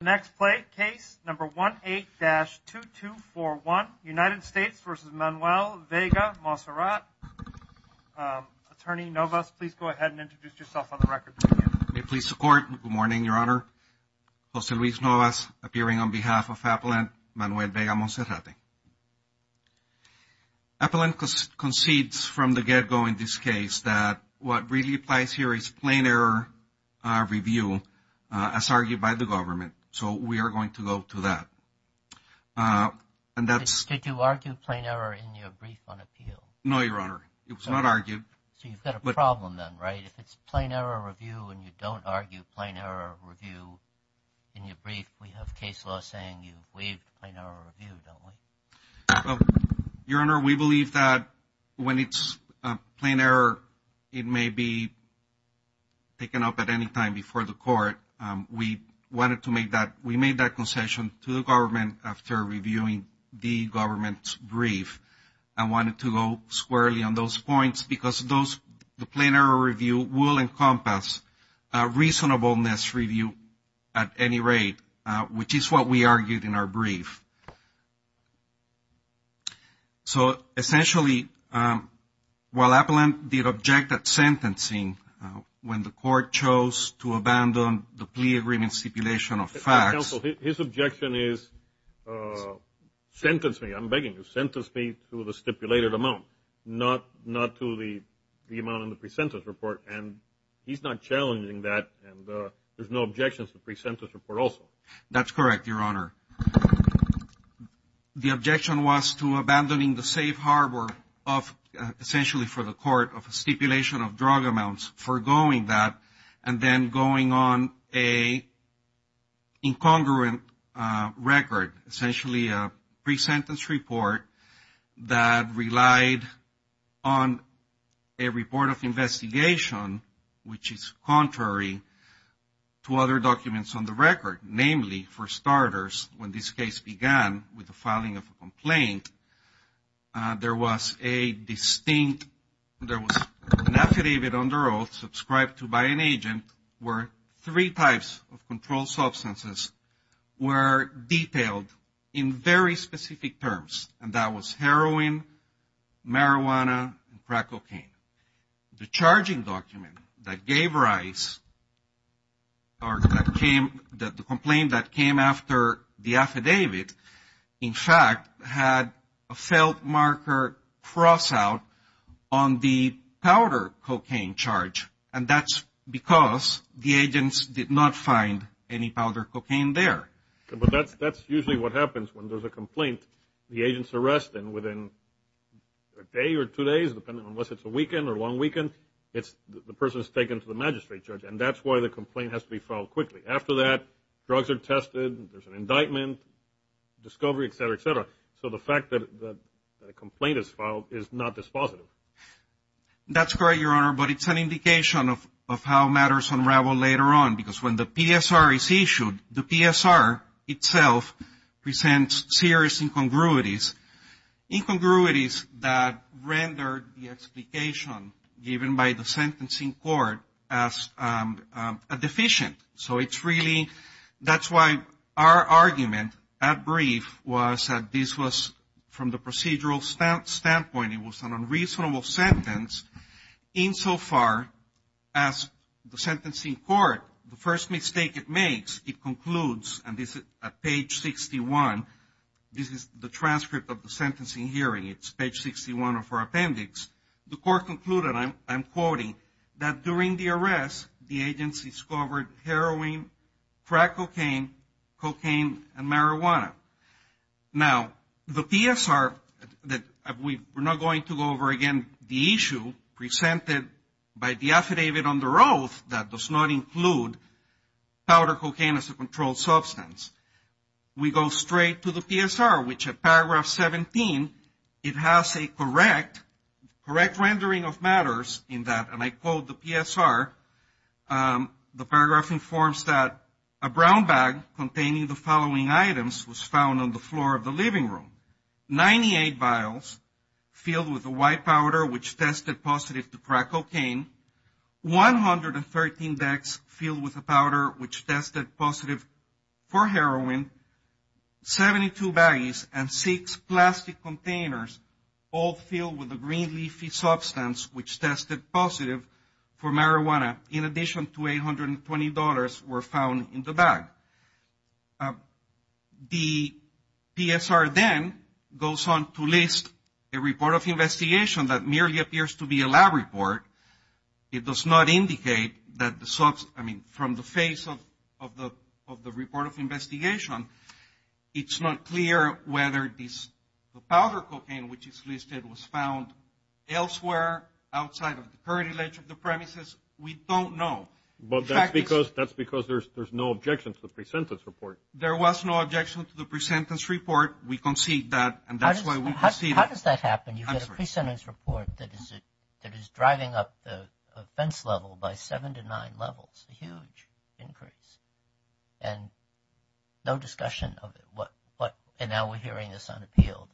The next case, number 18-2241, United States v. Manuel Vega-Monserrate. Attorney Novas, please go ahead and introduce yourself on the record. May it please the court. Good morning, Your Honor. Jose Luis Novas, appearing on behalf of Appellant Manuel Vega-Monserrate. Appellant concedes from the get-go in this case that what really applies here is plain error review as argued by the government. So we are going to go to that. Did you argue plain error in your brief on appeal? No, Your Honor. It was not argued. So you've got a problem then, right? If it's plain error review and you don't argue plain error review in your brief, we have case law saying you waived plain error review, don't we? Well, Your Honor, we believe that when it's plain error, it may be taken up at any time before the court. We wanted to make that, we made that concession to the government after reviewing the government's brief. I wanted to go squarely on those points because those, the plain error review will encompass a reasonableness review at any rate, which is what we argued in our brief. So essentially, while Appellant did object at sentencing when the court chose to abandon the plea agreement stipulation of facts. Counsel, his objection is, sentence me, I'm begging you, sentence me to the stipulated amount, not to the amount in the pre-sentence report. And he's not challenging that and there's no objections to the pre-sentence report also. That's correct, Your Honor. The objection was to abandoning the safe harbor of essentially for the court of a stipulation of drug amounts, foregoing that and then going on a incongruent record, essentially a pre-sentence report that relied on a report of investigation, which is contrary to other documents on the record. Namely, for starters, when this case began with the filing of a complaint, there was a distinct, there was an affidavit under oath subscribed to by an agent where three types of controlled substances were detailed in very that gave rise or that came, the complaint that came after the affidavit, in fact, had a felt marker cross out on the powder cocaine charge. And that's because the agents did not find any powder cocaine there. But that's usually what happens when there's a complaint. The agents unless it's a weekend or long weekend, the person is taken to the magistrate judge and that's why the complaint has to be filed quickly. After that, drugs are tested, there's an indictment, discovery, et cetera, et cetera. So the fact that a complaint is filed is not dispositive. That's correct, Your Honor, but it's an indication of how matters unravel later on because when the incongruities, incongruities that rendered the explication given by the sentencing court as a deficient. So it's really, that's why our argument at brief was that this was from the procedural standpoint, it was an unreasonable sentence insofar as the sentencing court, the first mistake it makes, it concludes, and this is at page 61, this is the transcript of the sentencing hearing, it's page 61 of our appendix. The court concluded, I'm quoting, that during the arrest, the agents discovered heroin, crack cocaine, cocaine, and marijuana. Now, the PSR, that we're not going to go over again, the issue presented by the affidavit under oath that does not include powder cocaine as a controlled substance. We go straight to the PSR, which at paragraph 17, it has a correct, correct rendering of matters in that, and I quote the PSR, the paragraph informs that a brown bag containing the following items was found on the floor of the living room. 98 vials filled with the white powder which tested positive to crack cocaine, 113 bags filled with the powder which tested positive for heroin, 72 bags and six plastic containers all filled with the green leafy substance which tested positive for marijuana, in addition to $820 were found in the bag. The PSR then goes on to list a report of investigation that merely appears to be a lab report. It does not indicate that the substance, I mean, from the face of the report of investigation, it's not clear whether this powder cocaine, which is listed, was found elsewhere outside of the current image of the premises. We don't know. But that's because there's no objection to the pre-sentence report. There was no objection to the pre-sentence report. We concede that, and that's why we conceded. How does that happen? You get a pre-sentence report that is driving up the offense level by seven to nine levels, a huge increase, and no discussion of it. And now we're hearing this unappealed.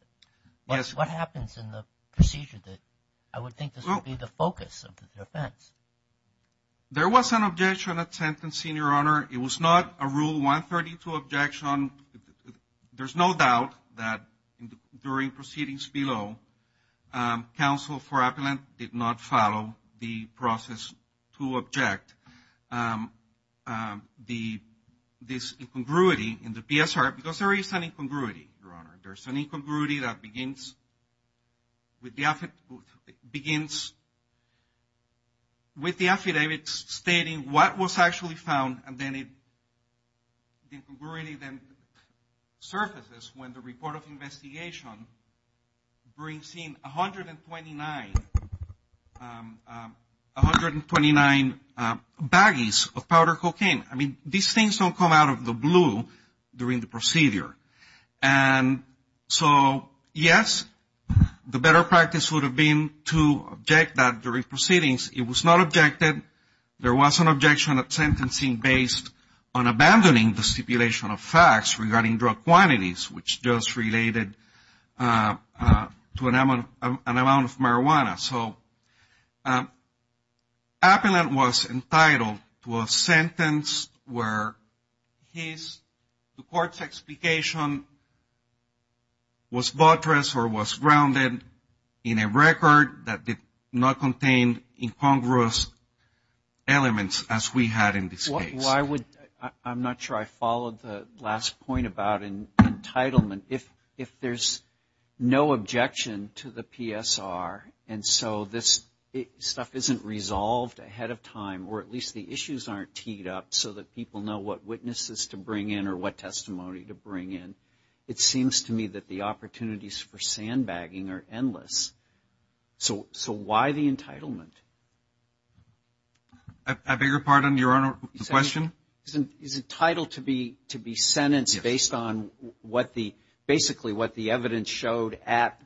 Yes. What happens in the procedure that I would think this would be the focus of the defense? There was an objection attempt in senior honor. It was not a rule 132 objection. There's no doubt that during proceedings below, counsel for appellant did not follow the process to object. This incongruity in the PSR, because there is an incongruity, your honor. There's an incongruity that begins with the affidavit stating what was actually found, and then it surfaces when the report of investigation brings in 129 baggies of powder cocaine. I mean, these things don't come out of the blue during the procedure. And so, yes, the better practice would have been to object that during proceedings. It was not objected. There was an objection of sentencing based on abandoning the stipulation of facts regarding drug quantities, which just related to an amount of marijuana. So appellant was entitled to a sentence where his, the court's, explication was buttress or was grounded in a record that did not incongruous elements as we had in this case. Why would, I'm not sure I followed the last point about entitlement. If there's no objection to the PSR, and so this stuff isn't resolved ahead of time, or at least the issues aren't teed up so that people know what witnesses to bring in or what testimony to bring in, it seems to me that the opportunities for sandbagging are endless. So why the entitlement? I beg your pardon, Your Honor, the question? He's entitled to be sentenced based on what the, basically what the evidence showed at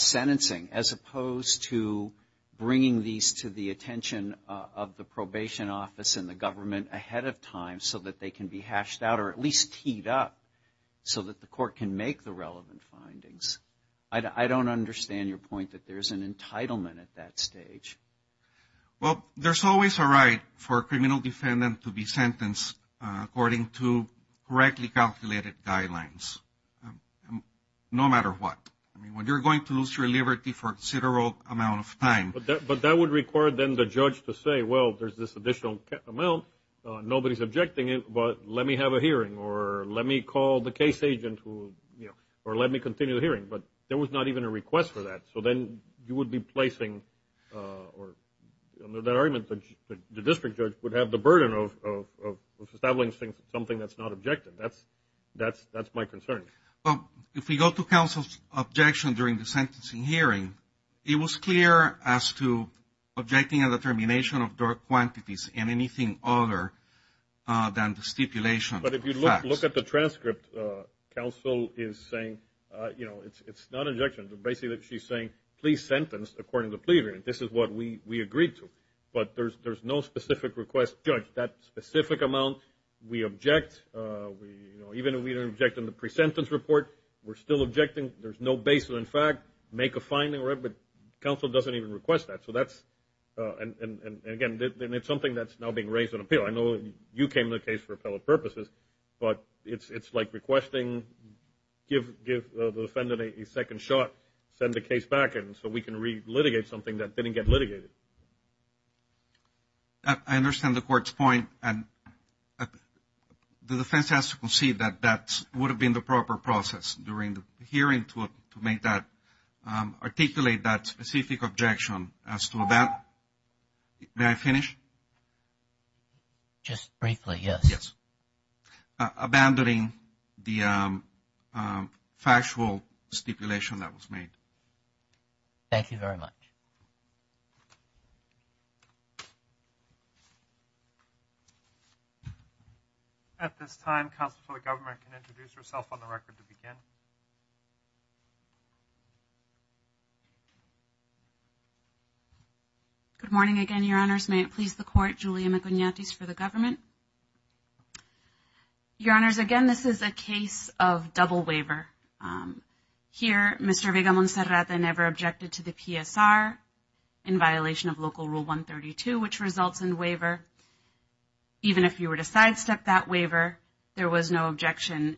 sentencing, as opposed to bringing these to the attention of the probation office and the government ahead of time so that they can be hashed out, or at least teed up so that the findings. I don't understand your point that there's an entitlement at that stage. Well, there's always a right for a criminal defendant to be sentenced according to correctly calculated guidelines, no matter what. I mean, when you're going to lose your liberty for a considerable amount of time. But that would require then the judge to say, well, there's this additional amount, nobody's objecting it, but let me have a hearing, or let me call the hearing, or let me continue the hearing. But there was not even a request for that. So then you would be placing, under that argument, the district judge would have the burden of establishing something that's not objective. That's my concern. Well, if we go to counsel's objection during the sentencing hearing, it was clear as to objecting a determination of dark quantities and anything other than the stipulation. But if you look at the transcript, counsel is saying, you know, it's not an objection, but basically she's saying, please sentence according to the plea agreement. This is what we agreed to. But there's no specific request. Judge, that specific amount, we object. Even if we don't object in the pre-sentence report, we're still objecting. There's no baseline fact. Make a finding, but counsel doesn't even request that. And again, it's something that's now being raised in appeal. I know you came to the case for appellate purposes, but it's like requesting, give the defendant a second shot, send the case back, and so we can re-litigate something that didn't get litigated. I understand the court's point. And the defense has to concede that that would have been the proper process during the hearing to make that, articulate that specific objection as to that. May I finish? Just briefly, yes. Yes. Abandoning the factual stipulation that was made. Thank you very much. At this time, counsel for the government can introduce herself on the record to begin. Good morning again, Your Honors. May it please the court, Julia McIgnatis for the government. Your Honors, again, this is a case of double waiver. Here, Mr. Vega-Monserrata never objected to the PSR in violation of Local Rule 132, which results in waiver. Even if you were to sidestep that waiver, there was no objection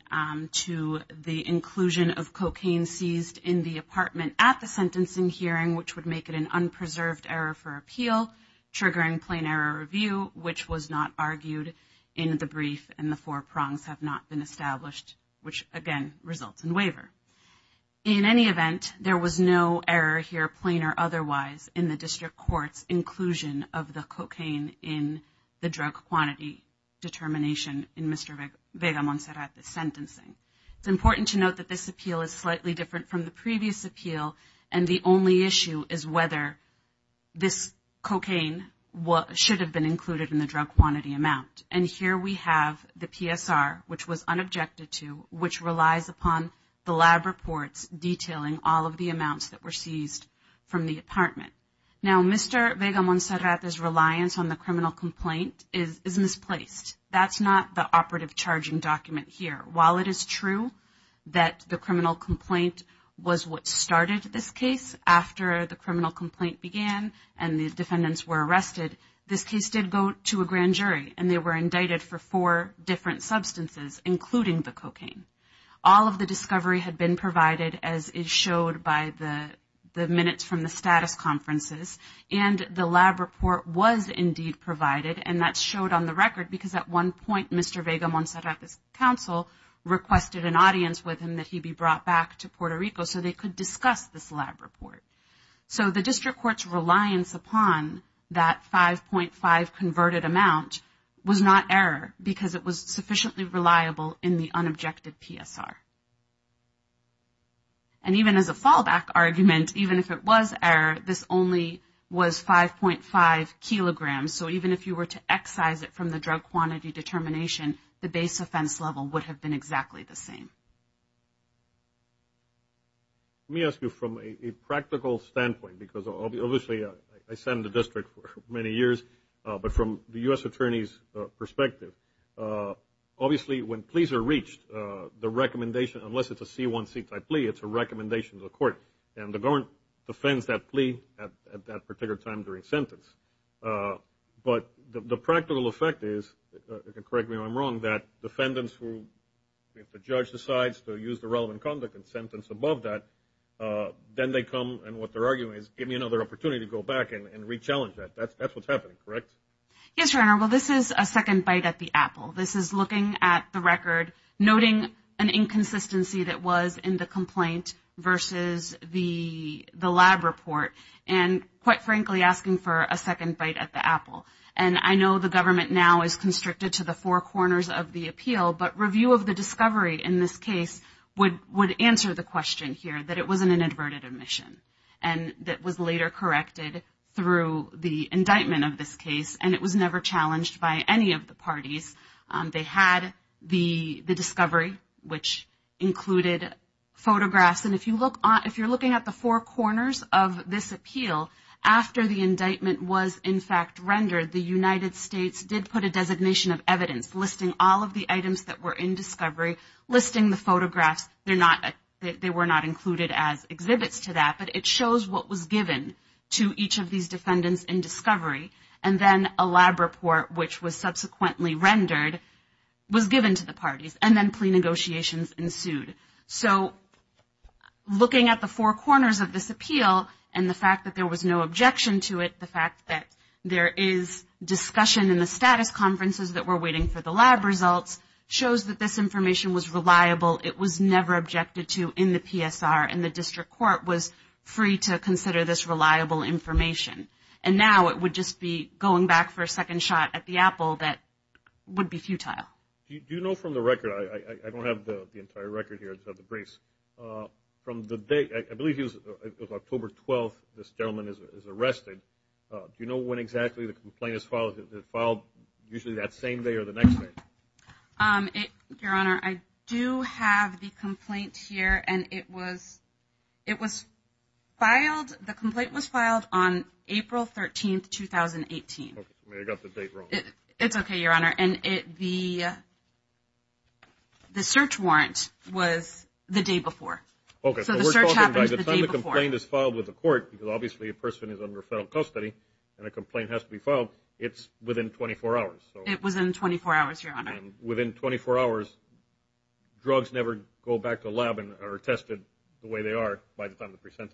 to the inclusion of cocaine seized in the apartment at the sentencing hearing, which would make it an unpreserved error for appeal, triggering plain error review, which was not argued in the brief, and the four prongs have not been established, which, again, results in waiver. In any event, there was no error here, plain or otherwise, in the district court's inclusion of the cocaine in the drug quantity determination in Mr. Vega-Monserrata's appeal, and the only issue is whether this cocaine should have been included in the drug quantity amount. And here we have the PSR, which was unobjected to, which relies upon the lab reports detailing all of the amounts that were seized from the apartment. Now, Mr. Vega-Monserrata's reliance on the criminal complaint is misplaced. That's not the operative charging document here. While it is true that the criminal complaint was what started this case after the criminal complaint began and the defendants were arrested, this case did go to a grand jury, and they were indicted for four different substances, including the cocaine. All of the discovery had been provided, as is showed by the minutes from the status conferences, and the lab report was indeed provided, and that showed on the record, because at one point, Mr. Vega-Monserrata's counsel requested an audience with him that he be brought back to Puerto Rico so they could discuss this lab report. So the district court's reliance upon that 5.5 converted amount was not error, because it was sufficiently reliable in the unobjected PSR. And even as a fallback argument, even if it was error, this only was 5.5 kilograms. So even if you were to excise it from the drug quantity determination, the base offense level would have been exactly the same. Let me ask you from a practical standpoint, because obviously I sat in the district for many years, but from the U.S. Attorney's perspective, obviously when pleas are reached, the recommendation, unless it's a C1C type plea, it's a recommendation to the court, and the court defends that plea at that particular time during sentence. But the practical effect is, correct me if I'm wrong, that defendants who, if the judge decides to use the relevant conduct and sentence above that, then they come, and what they're arguing is, give me another opportunity to go back and re-challenge that. That's what's happening, correct? Yes, Your Honor. Well, this is a second bite at the apple. This is looking at the record, noting an inconsistency that was in the complaint versus the lab report, and quite frankly, asking for a second bite at the apple. And I know the government now is constricted to the four corners of the appeal, but review of the discovery in this case would answer the question here, that it was an inadvertent admission, and that was later corrected through the indictment of this case, and it was never challenged by any of the parties. They had the discovery, which included photographs, and if you look, if you're looking at the four corners of this appeal, after the indictment was in fact rendered, the United States did put a designation of evidence listing all of the items that were in discovery, listing the photographs. They're not, they were not included as exhibits to that, but it shows what was given to each of these defendants in and then a lab report, which was subsequently rendered, was given to the parties, and then plea negotiations ensued. So, looking at the four corners of this appeal, and the fact that there was no objection to it, the fact that there is discussion in the status conferences that were waiting for the lab results, shows that this information was reliable. It was never objected to in the PSR, and the district court was free to consider this reliable information. And now, it would just be going back for a second shot at the apple that would be futile. Do you know from the record, I don't have the entire record here of the briefs, from the day, I believe it was October 12th, this gentleman is arrested. Do you know when exactly the complaint is filed? Is it filed usually that same day or the next day? Your Honor, I do have the complaint here, and it was, it was filed, the complaint was filed on April 13th, 2018. Okay, I got the date wrong. It's okay, Your Honor, and it, the, the search warrant was the day before. Okay. So, the search happened the day before. The time the complaint is filed with the court, because obviously a person is under federal custody, and a complaint has to be filed, it's within 24 hours. It was in 24 hours, Your Honor. And within 24 hours, drugs never go back to lab and are tested the way they are by the time the present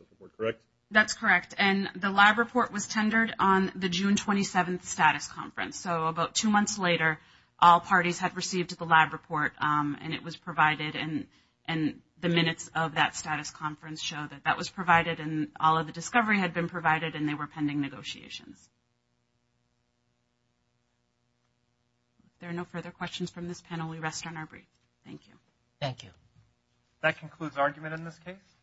on the June 27th status conference. So, about two months later, all parties had received the lab report, and it was provided, and, and the minutes of that status conference show that that was provided, and all of the discovery had been provided, and they were pending negotiations. If there are no further questions from this panel, we rest on our briefs. Thank you. Thank you. That concludes argument in this case.